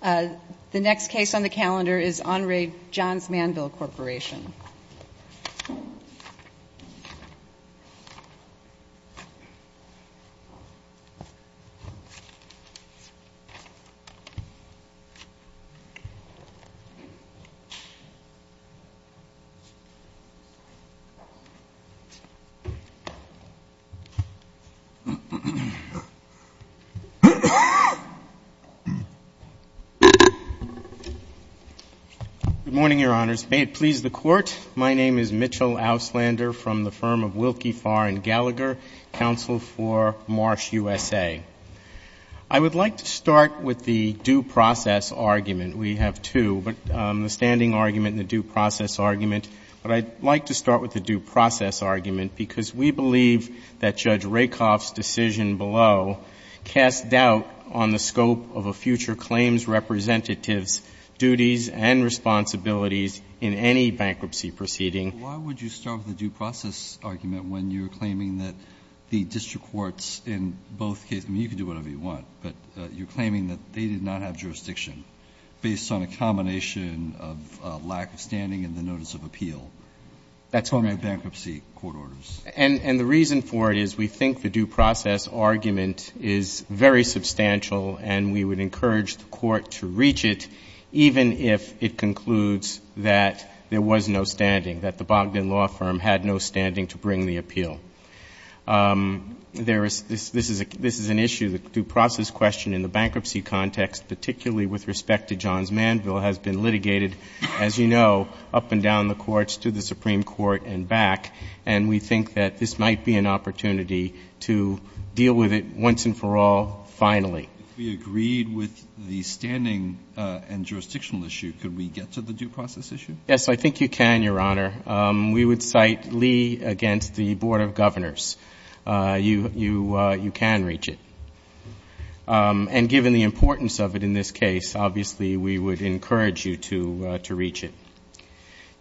The next case on the calendar is Henri Johns-Manville Corporation. Good morning, Your Honors. May it please the Court, my name is Mitchell Auslander from the firm of Wilkie, Farr & Gallagher, Counsel for Marsh, USA. I would like to start with the due process argument. We have two, the standing argument and the due process argument. But I'd like to start with the due process argument because we believe that Judge Rakoff's decision below casts doubt on the scope of a future claims representative's duties and responsibilities in any bankruptcy proceeding. Why would you start with the due process argument when you're claiming that the district courts in both cases I mean, you can do whatever you want, but you're claiming that they did not have jurisdiction based on a combination of lack of standing and the notice of appeal. That's correct. On the bankruptcy court orders. And the reason for it is we think the due process argument is very substantial and we would encourage the Court to reach it even if it concludes that there was no standing, that the Bogdan Law Firm had no standing to bring the appeal. This is an issue, the due process question in the bankruptcy context, particularly with respect to Johns-Manville, has been litigated, as you know, up and down the courts to the Supreme Court and back. And we think that this might be an opportunity to deal with it once and for all finally. If we agreed with the standing and jurisdictional issue, could we get to the due process issue? Yes, I think you can, Your Honor. We would cite Lee against the Board of Governors. You can reach it. And given the importance of it in this case, obviously we would encourage you to reach it.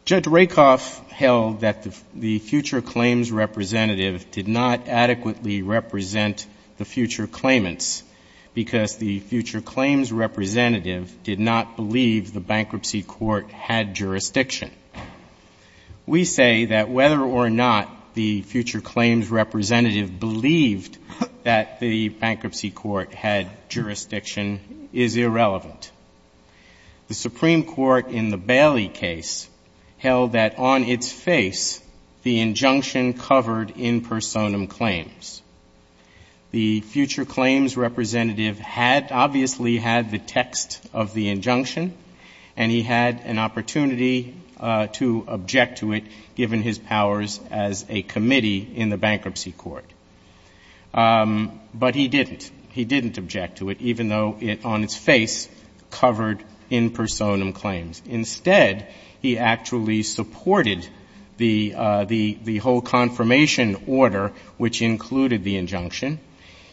Judge Rakoff held that the future claims representative did not adequately represent the future claimants because the future claims representative did not believe the bankruptcy court had jurisdiction. We say that whether or not the future claims representative believed that the bankruptcy court had jurisdiction is irrelevant. The Supreme Court in the Bailey case held that on its face the injunction covered in personam claims. The future claims representative had obviously had the text of the injunction and he had an opportunity to object to it given his powers as a committee in the bankruptcy court. But he didn't. He didn't object to it, even though it on its face covered in personam claims. Instead, he actually supported the whole confirmation order, which included the injunction.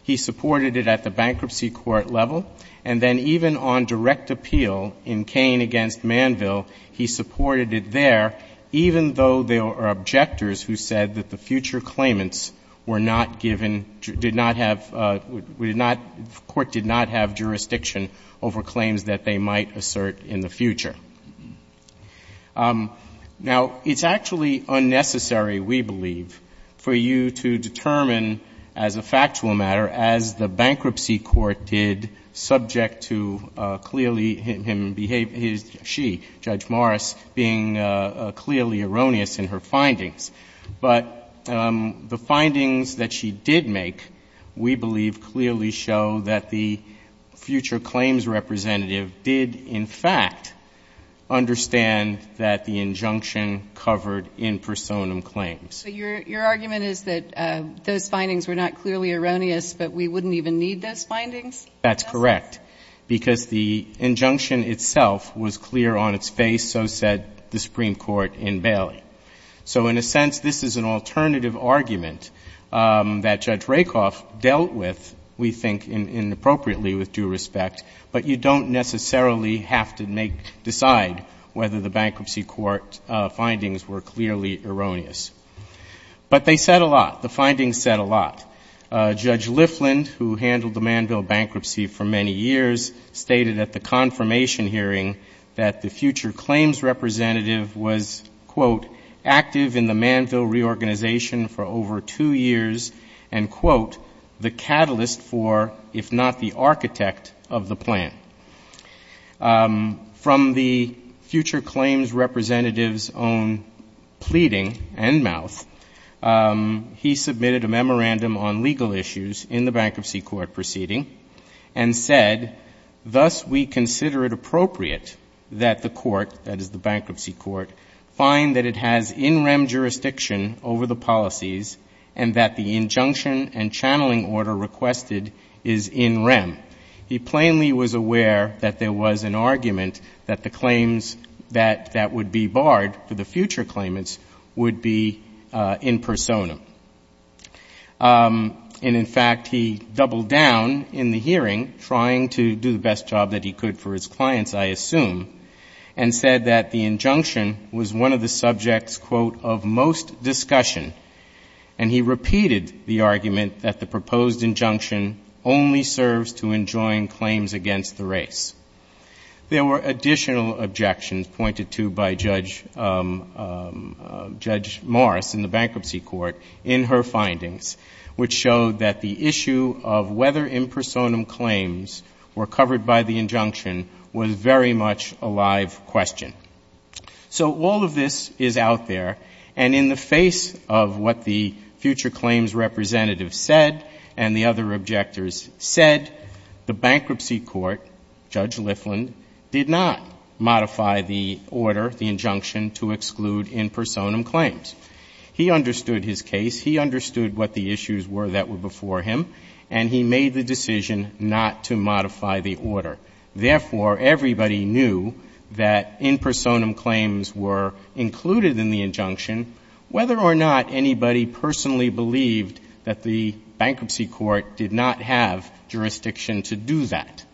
He supported it at the bankruptcy court level. And then even on direct appeal in Kain against Manville, he supported it there, even though there were objectors who said that the future claimants were not given, did not have, the court did not have jurisdiction over claims that they might assert in the future. Now, it's actually unnecessary, we believe, for you to determine as a factual matter, as the bankruptcy court did, subject to clearly him behaving, she, Judge Morris, being clearly erroneous in her findings. But the findings that she did make, we believe, clearly show that the future claims representative did, in fact, understand that the injunction covered in personam claims. So your argument is that those findings were not clearly erroneous, but we wouldn't even need those findings? That's correct. Because the injunction itself was clear on its face, so said the Supreme Court in Bailey. So in a sense, this is an alternative argument that Judge Rakoff dealt with, we think, inappropriately, with due respect. But you don't necessarily have to decide whether the bankruptcy court findings were clearly erroneous. But they said a lot. The findings said a lot. Judge Lifland, who handled the Manville bankruptcy for many years, stated at the confirmation hearing that the future claims representative was, quote, active in the Manville reorganization for over two years, and, quote, the catalyst for, if not the architect of the plan. From the future claims representative's own pleading and mouth, he submitted a memorandum on legal issues in the bankruptcy court proceeding and said, thus we consider it appropriate that the court, that is the bankruptcy court, find that it has in rem jurisdiction over the policies and that the injunction and channeling order requested is in rem. He plainly was aware that there was an argument that the claims that would be barred for the future claimants would be in persona. And, in fact, he doubled down in the hearing, trying to do the best job that he could for his clients, I assume, and said that the injunction was one of the subjects, quote, of most discussion. And he repeated the argument that the proposed injunction only serves to enjoin claims against the race. There were additional objections pointed to by Judge Morris in the bankruptcy court in her findings, which showed that the issue of whether impersonum claims were covered by the injunction was very much a live question. So all of this is out there, and in the face of what the future claims representative said and the other objectors said, the bankruptcy court, Judge Lifland, did not modify the order, the injunction to exclude impersonum claims. He understood his case, he understood what the issues were that were before him, and he made the decision not to modify the order. Therefore, everybody knew that impersonum claims were included in the injunction, whether or not anybody personally believed that the bankruptcy court did not have jurisdiction to do that.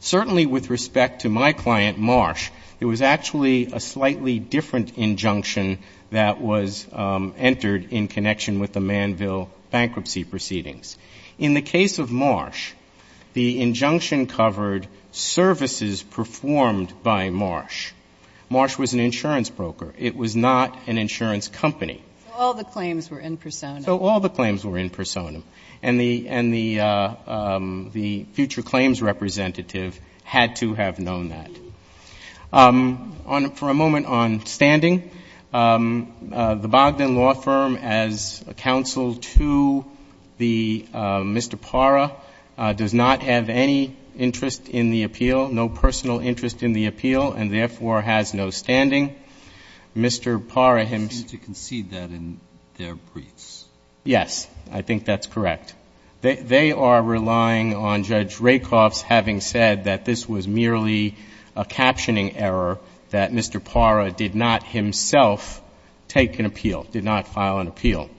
Certainly with respect to my client, Marsh, it was actually a slightly different injunction that was entered in connection with the Manville bankruptcy proceedings. In the case of Marsh, the injunction covered services performed by Marsh. Marsh was an insurance broker. It was not an insurance company. So all the claims were impersonum. And the future claims representative had to have known that. Mr. Parra does not have any interest in the appeal, no personal interest in the appeal, and therefore has no standing. Mr. Parra himself. Yes, I think that's correct. They are relying on Judge Rakoff's having said that this was merely a captioning error, that Mr. Parra did not himself take an appeal, did not file an appeal.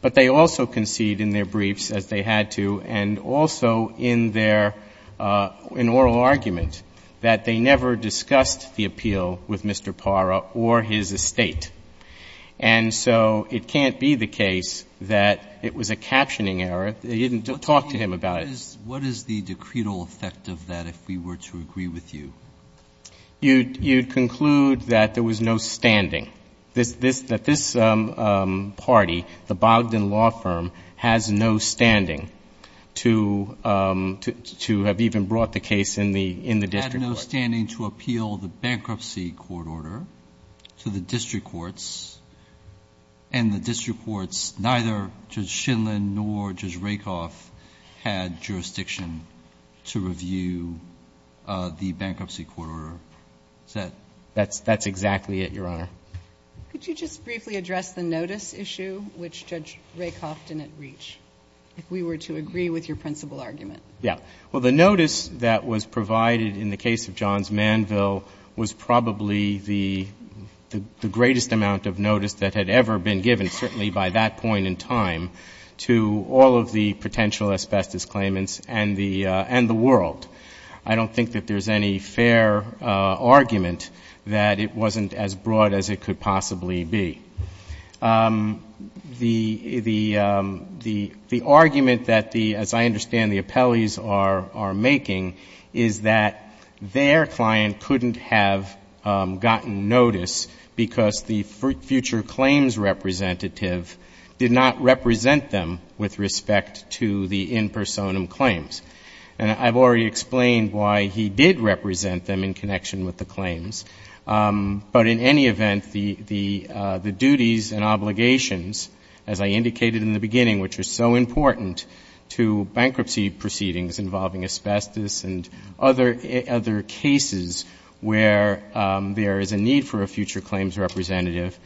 But they also concede in their briefs, as they had to, and also in their oral argument that they never discussed the appeal with Mr. Parra or his estate. And so it can't be the case that it was a captioning error. They didn't talk to him about it. What is the decretal effect of that, if we were to agree with you? You'd conclude that there was no standing, that this party, the Bogdan Law Firm, has no standing to have even brought the case in the district court. It had no standing to appeal the bankruptcy court order to the district courts, and the district courts, neither Judge Shindlin nor Judge Rakoff, had jurisdiction to review the bankruptcy court order. Is that? That's exactly it, Your Honor. Could you just briefly address the notice issue, which Judge Rakoff didn't reach, if we were to agree with your principal argument? Well, the notice that was provided in the case of Johns Manville was probably the greatest amount of notice that had ever been given, certainly by that point in time, to all of the potential asbestos claimants and the world. I don't think that there's any fair argument that it wasn't as broad as it could possibly be. The argument that, as I understand, the appellees are making is that their client couldn't have gotten notice because the future claims representative did not represent them with respect to the in personam claims. And I've already explained why he did represent them in connection with the claims. But in any event, the duties and obligations, as I indicated in the beginning, which are so important to bankruptcy proceedings involving asbestos and other cases where there is a need for a future claims representative,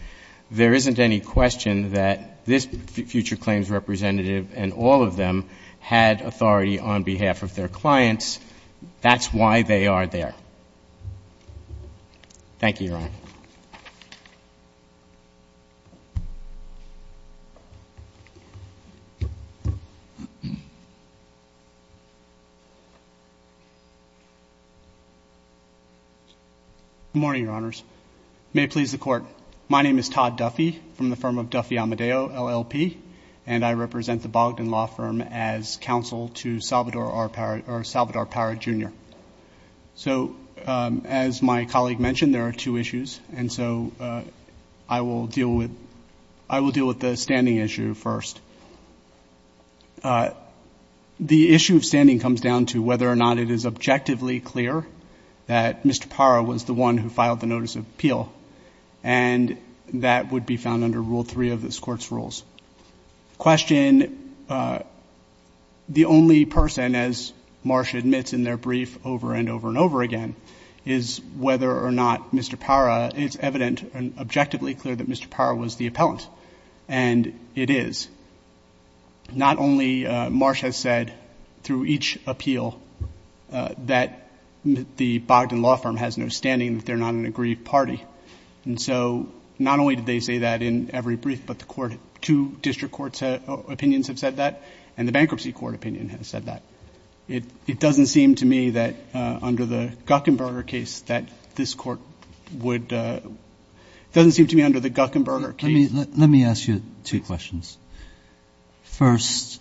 there isn't any question that this future claims representative and all of them had authority on behalf of their clients. That's why they are there. Thank you, Your Honor. Good morning, Your Honors. May it please the Court. My name is Todd Duffy from the firm of Duffy Amadeo, LLP, and I represent the Bogdan Law Firm as counsel to Salvador Parra, Jr. So as my colleague mentioned, there are two issues, and so I will deal with the standing issue first. The issue of standing comes down to whether or not it is objectively clear that Mr. Parra was the one who filed the notice of appeal, and that would be found under Rule 3 of this Court's rules. The question, the only person, as Marsh admits in their brief over and over and over again, is whether or not Mr. Parra — it's evident and objectively clear that Mr. Parra was the appellant, and it is. Not only — Marsh has said through each appeal that the Bogdan Law Firm has no standing that they're not an agreed party. And so not only did they say that in every brief, but the court — two district courts' opinions have said that, and the bankruptcy court opinion has said that. It doesn't seem to me that under the Guckenberger case that this Court would — doesn't seem to me under the Guckenberger case. Let me ask you two questions. First,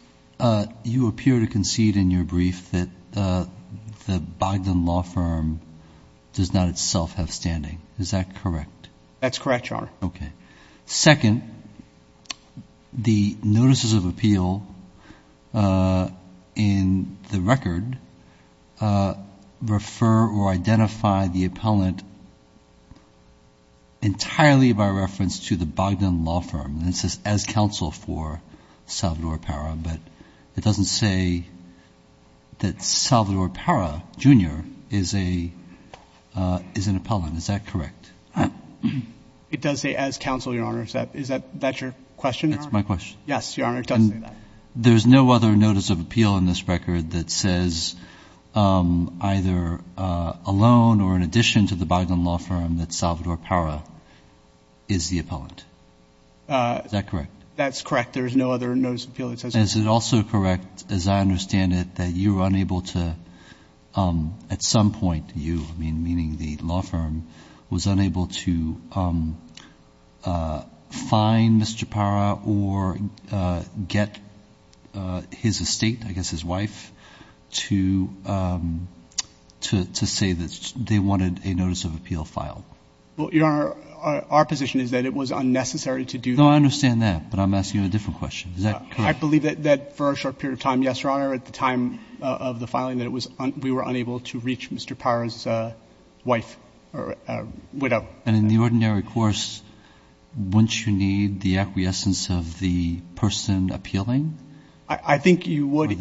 you appear to concede in your brief that the Bogdan Law Firm does not itself have standing. Is that correct? That's correct, Your Honor. Okay. Second, the notices of appeal in the record refer or identify the appellant entirely by reference to the Bogdan Law Firm. This is as counsel for Salvador Parra, but it doesn't say that Salvador Parra Jr. is an appellant. Is that correct? It does say as counsel, Your Honor. Is that your question, Your Honor? That's my question. Yes, Your Honor. It does say that. There's no other notice of appeal in this record that says either alone or in addition to the Bogdan Law Firm that Salvador Parra is the appellant. Is that correct? That's correct. There is no other notice of appeal that says that. And is it also correct, as I understand it, that you were unable to — at some point, you, meaning the law firm, was unable to fine Mr. Parra or get his estate, I guess his wife, to say that they wanted a notice of appeal filed? Well, Your Honor, our position is that it was unnecessary to do that. No, I understand that, but I'm asking you a different question. Is that correct? I believe that for a short period of time, yes, Your Honor, at the time of the filing, that we were unable to reach Mr. Parra's wife or widow. And in the ordinary course, wouldn't you need the acquiescence of the person appealing? I think you would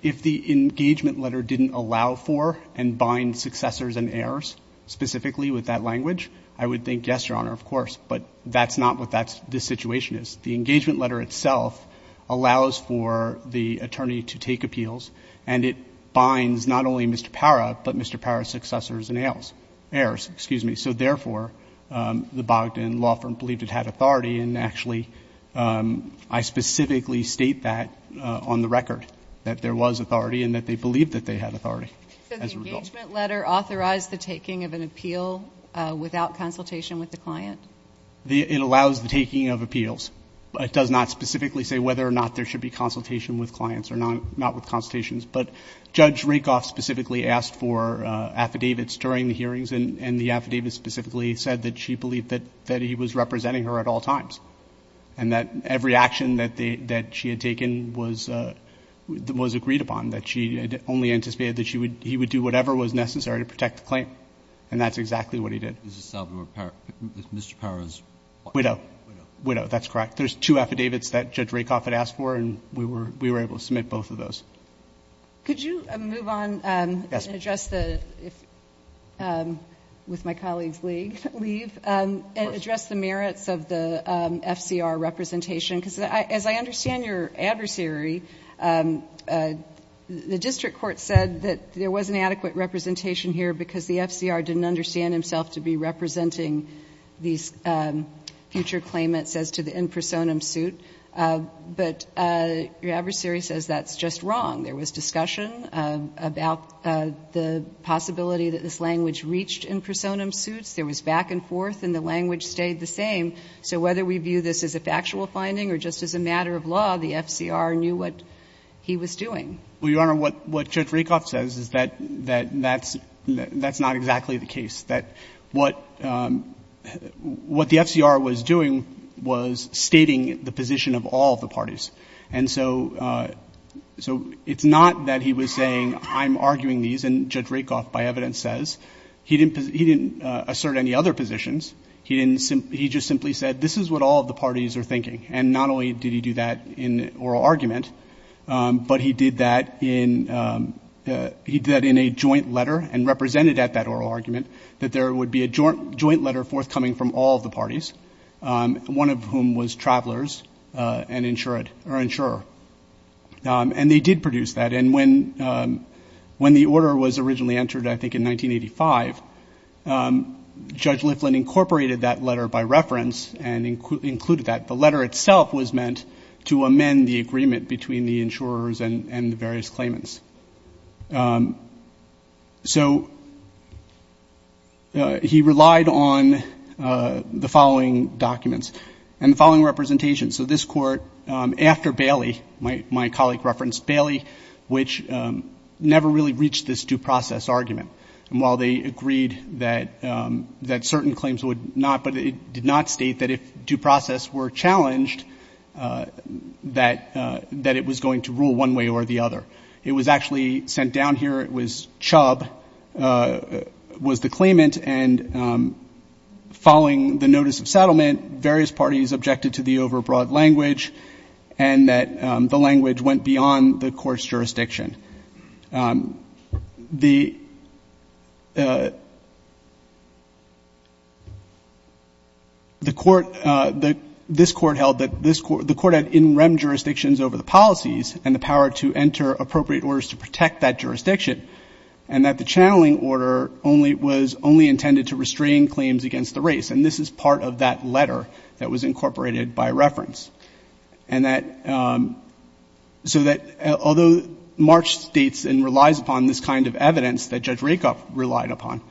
if the engagement letter didn't allow for and bind successors and heirs specifically with that language. I would think, yes, Your Honor, of course, but that's not what this situation is. The engagement letter itself allows for the attorney to take appeals, and it binds not only Mr. Parra, but Mr. Parra's successors and heirs. So therefore, the Bogdan Law Firm believed it had authority, and actually, I specifically state that on the record, that there was authority and that they believed that they had authority as a result. Did the engagement letter authorize the taking of an appeal without consultation with the client? It allows the taking of appeals. It does not specifically say whether or not there should be consultation with clients or not with consultations, but Judge Rakoff specifically asked for affidavits during the hearings, and the affidavit specifically said that she believed that he was representing her at all times, and that every action that she had taken was agreed upon, that she only anticipated that she would do whatever was necessary to protect the client, and that's exactly what he did. Mr. Parra's wife? Widow. Widow. Widow. That's correct. There's two affidavits that Judge Rakoff had asked for, and we were able to submit both of those. Could you move on and address the, with my colleagues leave, and address the merits of the FCR representation? Because as I understand your adversary, the district court said that there was an adequate representation here because the FCR didn't understand himself to be representing these future claimants as to the in personam suit, but your adversary says that's just wrong. There was discussion about the possibility that this language reached in personam suits. There was back and forth, and the language stayed the same. So whether we view this as a factual finding or just as a matter of law, the FCR knew what he was doing. Well, Your Honor, what Judge Rakoff says is that that's not exactly the case. That what the FCR was doing was stating the position of all the parties. And so it's not that he was saying I'm arguing these, and Judge Rakoff, by evidence, says. He didn't assert any other positions. He just simply said this is what all of the parties are thinking, and not only did he do that in oral argument, but he did that in a joint letter and represented at that oral argument that there would be a joint letter forthcoming from all of the parties, one of whom was travelers and insurer. And they did produce that, and when the order was originally entered, I think, in 1985, Judge Liflin incorporated that letter by reference and included that. The letter itself was meant to amend the agreement between the insurers and the various claimants. So he relied on the following documents and the following representations. So this Court, after Bailey, my colleague referenced Bailey, which never really reached this due process argument. And while they agreed that certain claims would not, but it did not state that if due process were challenged, that it was going to rule one way or the other. It was actually sent down here. It was Chubb was the claimant, and following the notice of settlement, various parties objected to the overbroad language and that the language went beyond the jurisdiction. The Court, this Court held that the Court had in rem jurisdictions over the policies and the power to enter appropriate orders to protect that jurisdiction, and that the channeling order was only intended to restrain claims against the race. And this is part of that letter that was incorporated by reference. And that, so that although March states and relies upon this kind of evidence that Judge Rakoff relied upon,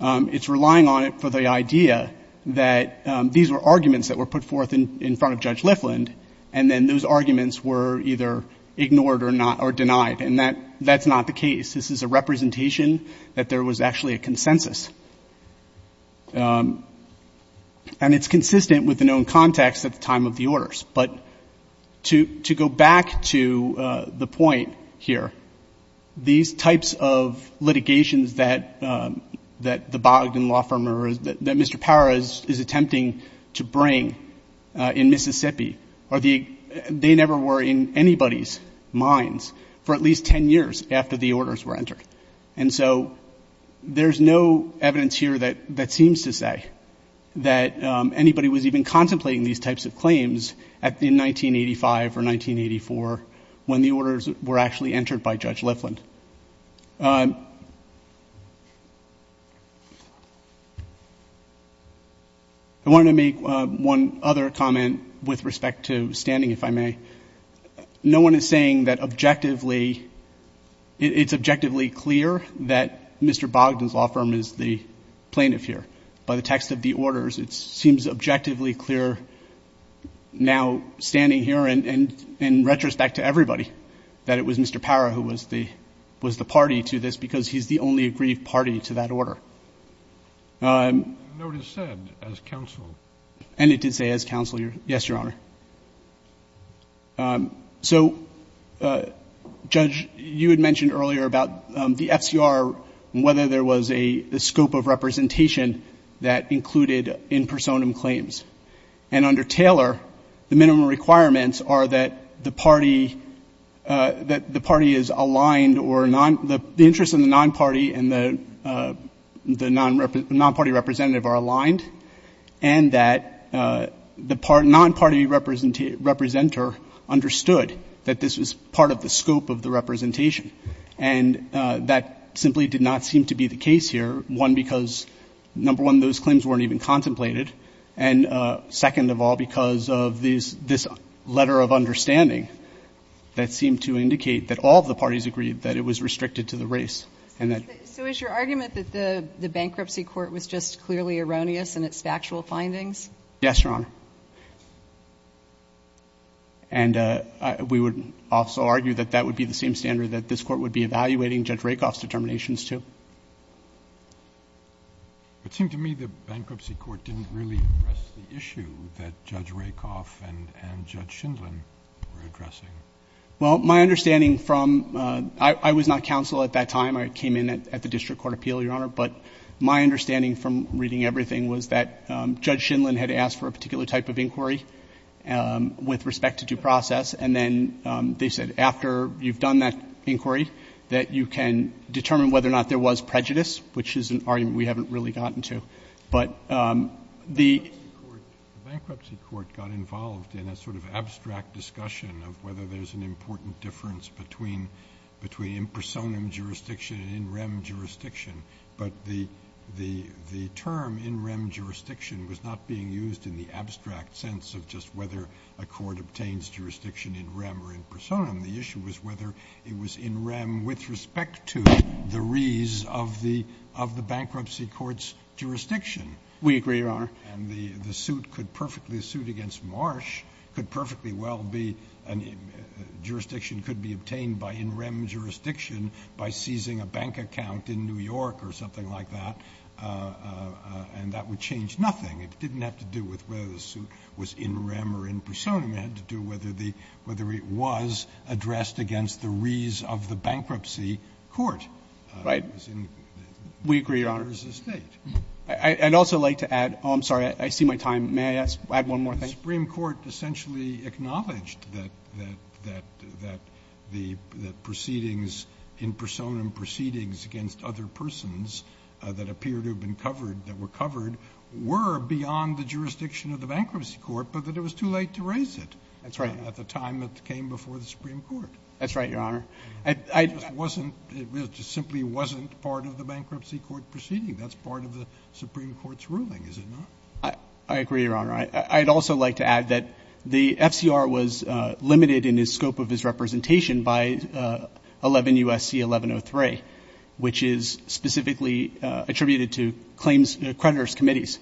it's relying on it for the idea that these were arguments that were put forth in front of Judge Lifland, and then those arguments were either ignored or not, or denied, and that's not the case. This is a representation that there was actually a consensus. And it's consistent with the known context at the time of the orders. But to go back to the point here, these types of litigations that the Bogdan law firm or that Mr. Power is attempting to bring in Mississippi, they never were in anybody's minds for at least 10 years after the orders were entered. And so there's no evidence here that seems to say that anybody was even contemplating these types of claims in 1985 or 1984 when the orders were actually entered by Judge Lifland. I wanted to make one other comment with respect to standing, if I may. No one is saying that objectively, it's objectively clear that Mr. Bogdan's law firm is the plaintiff here. By the text of the orders, it seems objectively clear now standing here and in retrospect to everybody that it was Mr. Power who was the party to this because he's the only agreed party to that order. The notice said as counsel. And it did say as counsel, yes, Your Honor. So, Judge, you had mentioned earlier about the FCR and whether there was a scope of representation that included in personam claims. And under Taylor, the minimum requirements are that the party is aligned or the interest in the non-party and the non-party representative are aligned and that the non-party representer understood that this was part of the scope of the representation. And that simply did not seem to be the case here. One, because, number one, those claims weren't even contemplated. And second of all, because of this letter of understanding that seemed to indicate that all of the parties agreed that it was restricted to the race and that. So is your argument that the bankruptcy court was just clearly erroneous in its factual findings? Yes, Your Honor. And we would also argue that that would be the same standard that this Court would be evaluating Judge Rakoff's determinations to. It seemed to me the bankruptcy court didn't really address the issue that Judge Shindlin had asked for a particular type of inquiry with respect to due process. And then they said after you've done that inquiry that you can determine whether or not there was prejudice, which is an argument we haven't really gotten to. But the ---- The bankruptcy court got involved in a sort of abstract discussion of whether there was an important difference between impersonum jurisdiction and in rem jurisdiction. But the term in rem jurisdiction was not being used in the abstract sense of just whether a court obtains jurisdiction in rem or in personam. The issue was whether it was in rem with respect to the re's of the bankruptcy court's jurisdiction. We agree, Your Honor. And the suit could perfectly, a suit against Marsh could perfectly well be a jurisdiction could be obtained by in rem jurisdiction by seizing a bank account in New York or something like that, and that would change nothing. It didn't have to do with whether the suit was in rem or in personam. It had to do with whether the ---- whether it was addressed against the re's of the bankruptcy court. Right. We agree, Your Honor. I'd also like to add ---- oh, I'm sorry. I see my time. May I add one more thing? The Supreme Court essentially acknowledged that the proceedings, impersonam proceedings against other persons that appear to have been covered, that were covered, were beyond the jurisdiction of the bankruptcy court, but that it was too late to raise it. That's right. At the time that it came before the Supreme Court. That's right, Your Honor. It just simply wasn't part of the bankruptcy court proceeding. That's part of the Supreme Court's ruling, is it not? I agree, Your Honor. I'd also like to add that the FCR was limited in the scope of its representation by 11 U.S.C. 1103, which is specifically attributed to claims creditor's committees.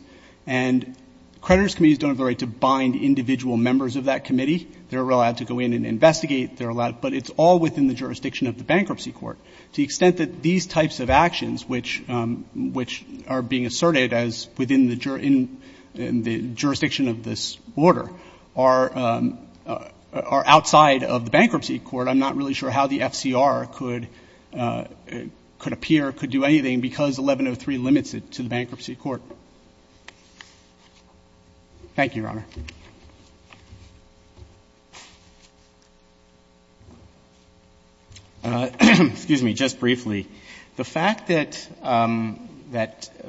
And creditor's committees don't have the right to bind individual members of that committee. They're allowed to go in and investigate. But it's all within the jurisdiction of the bankruptcy court. To the extent that these types of actions, which are being asserted as within the jurisdiction of this order, are outside of the bankruptcy court, I'm not really sure how the FCR could appear, could do anything, because 1103 limits it to the bankruptcy court. Thank you, Your Honor. Excuse me. Just briefly, the fact that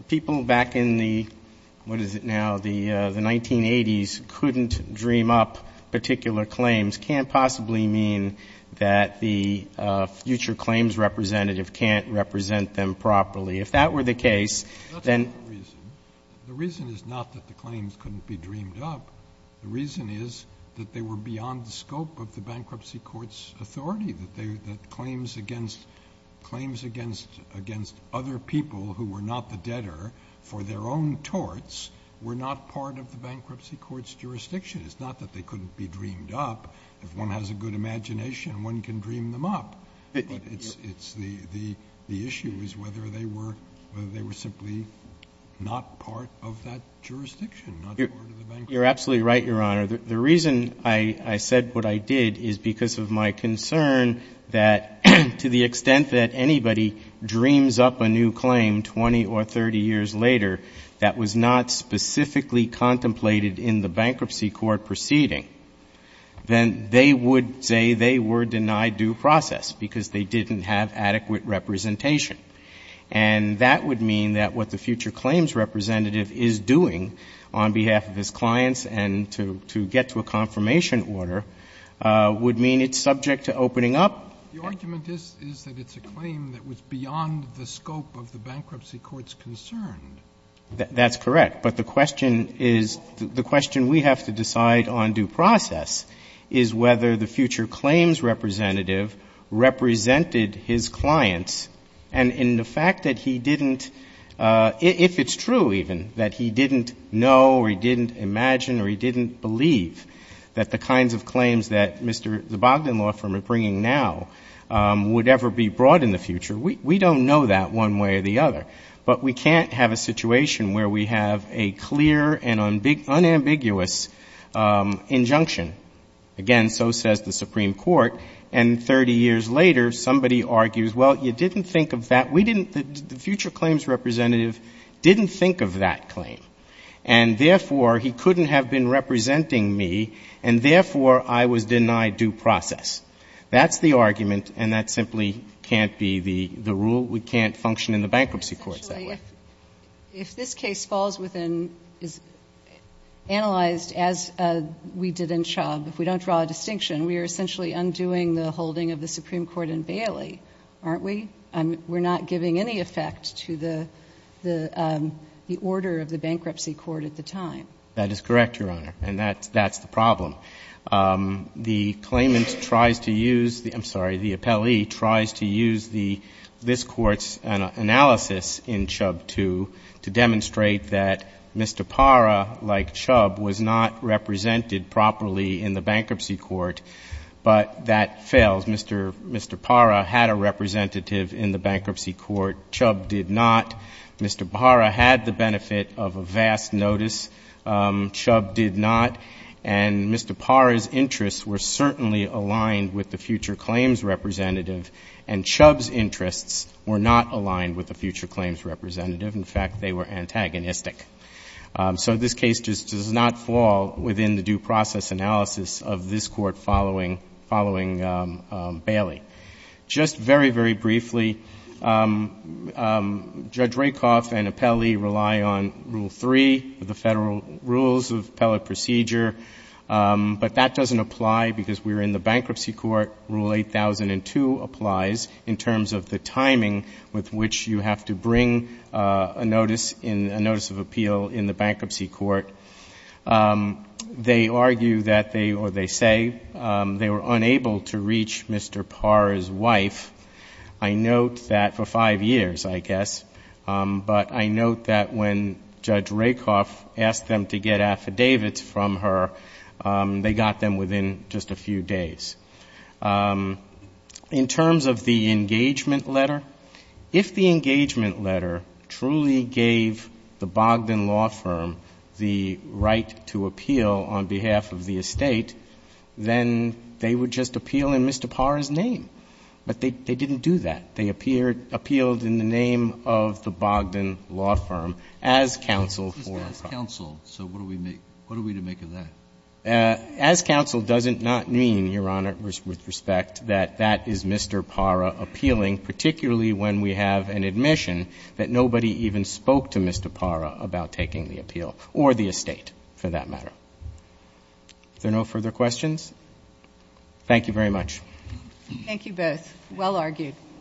people back in the, what is it now, the 1980s couldn't dream up particular claims can't possibly mean that the future claims representative can't represent them properly. If that were the case, then the reason is not that the claims couldn't be dreamed up. The reason is that they were beyond the scope of the bankruptcy court's authority, that claims against other people who were not the debtor for their own torts were not part of the bankruptcy court's jurisdiction. It's not that they couldn't be dreamed up. If one has a good imagination, one can dream them up. But the issue is whether they were simply not part of that jurisdiction, not part of the bankruptcy court. You're absolutely right, Your Honor. The reason I said what I did is because of my concern that to the extent that anybody dreams up a new claim 20 or 30 years later that was not specifically contemplated in the bankruptcy court proceeding, then they would say they were denied due process because they didn't have adequate representation. And that would mean that what the future claims representative is doing on behalf of his clients and to get to a confirmation order would mean it's subject to opening up. The argument is that it's a claim that was beyond the scope of the bankruptcy court's concern. That's correct. But the question is, the question we have to decide on due process is whether the And in the fact that he didn't, if it's true even, that he didn't know or he didn't imagine or he didn't believe that the kinds of claims that Mr. Zabagdin Law Firm are bringing now would ever be brought in the future, we don't know that one way or the other. But we can't have a situation where we have a clear and unambiguous injunction. Again, so says the Supreme Court. And 30 years later, somebody argues, well, you didn't think of that. We didn't. The future claims representative didn't think of that claim. And therefore, he couldn't have been representing me, and therefore, I was denied due process. That's the argument, and that simply can't be the rule. We can't function in the bankruptcy courts that way. Essentially, if this case falls within, is analyzed as we did in Chubb, if we don't draw a distinction, we are essentially undoing the holding of the Supreme Court in Bailey, aren't we? We're not giving any effect to the order of the bankruptcy court at the time. That is correct, Your Honor, and that's the problem. The claimant tries to use the — I'm sorry, the appellee tries to use this Court's analysis in Chubb to demonstrate that Mr. Parra, like Chubb, was not represented properly in the bankruptcy court, but that fails. Mr. Parra had a representative in the bankruptcy court. Chubb did not. Mr. Parra had the benefit of a vast notice. Chubb did not. And Mr. Parra's interests were certainly aligned with the future claims representative, and Chubb's interests were not aligned with the future claims representative. In fact, they were antagonistic. So this case just does not fall within the due process analysis of this Court following — following Bailey. Just very, very briefly, Judge Rakoff and appellee rely on Rule 3, the Federal Rules of Appellate Procedure, but that doesn't apply because we're in the bankruptcy court. Rule 8002 applies in terms of the timing with which you have to bring a notice — a notice of appeal in the bankruptcy court. They argue that they — or they say they were unable to reach Mr. Parra's wife. I note that for five years, I guess. But I note that when Judge Rakoff asked them to get affidavits from her, they got them within just a few days. In terms of the engagement letter, if the engagement letter truly gave the Bogdan Law Firm the right to appeal on behalf of the estate, then they would just appeal in Mr. Parra's name. But they didn't do that. They appealed in the name of the Bogdan Law Firm as counsel for Parra. So what are we to make of that? As counsel doesn't not mean, Your Honor, with respect, that that is Mr. Parra appealing, particularly when we have an admission that nobody even spoke to Mr. Parra about taking the appeal, or the estate, for that matter. Are there no further questions? Thank you very much. Thank you both. Well argued.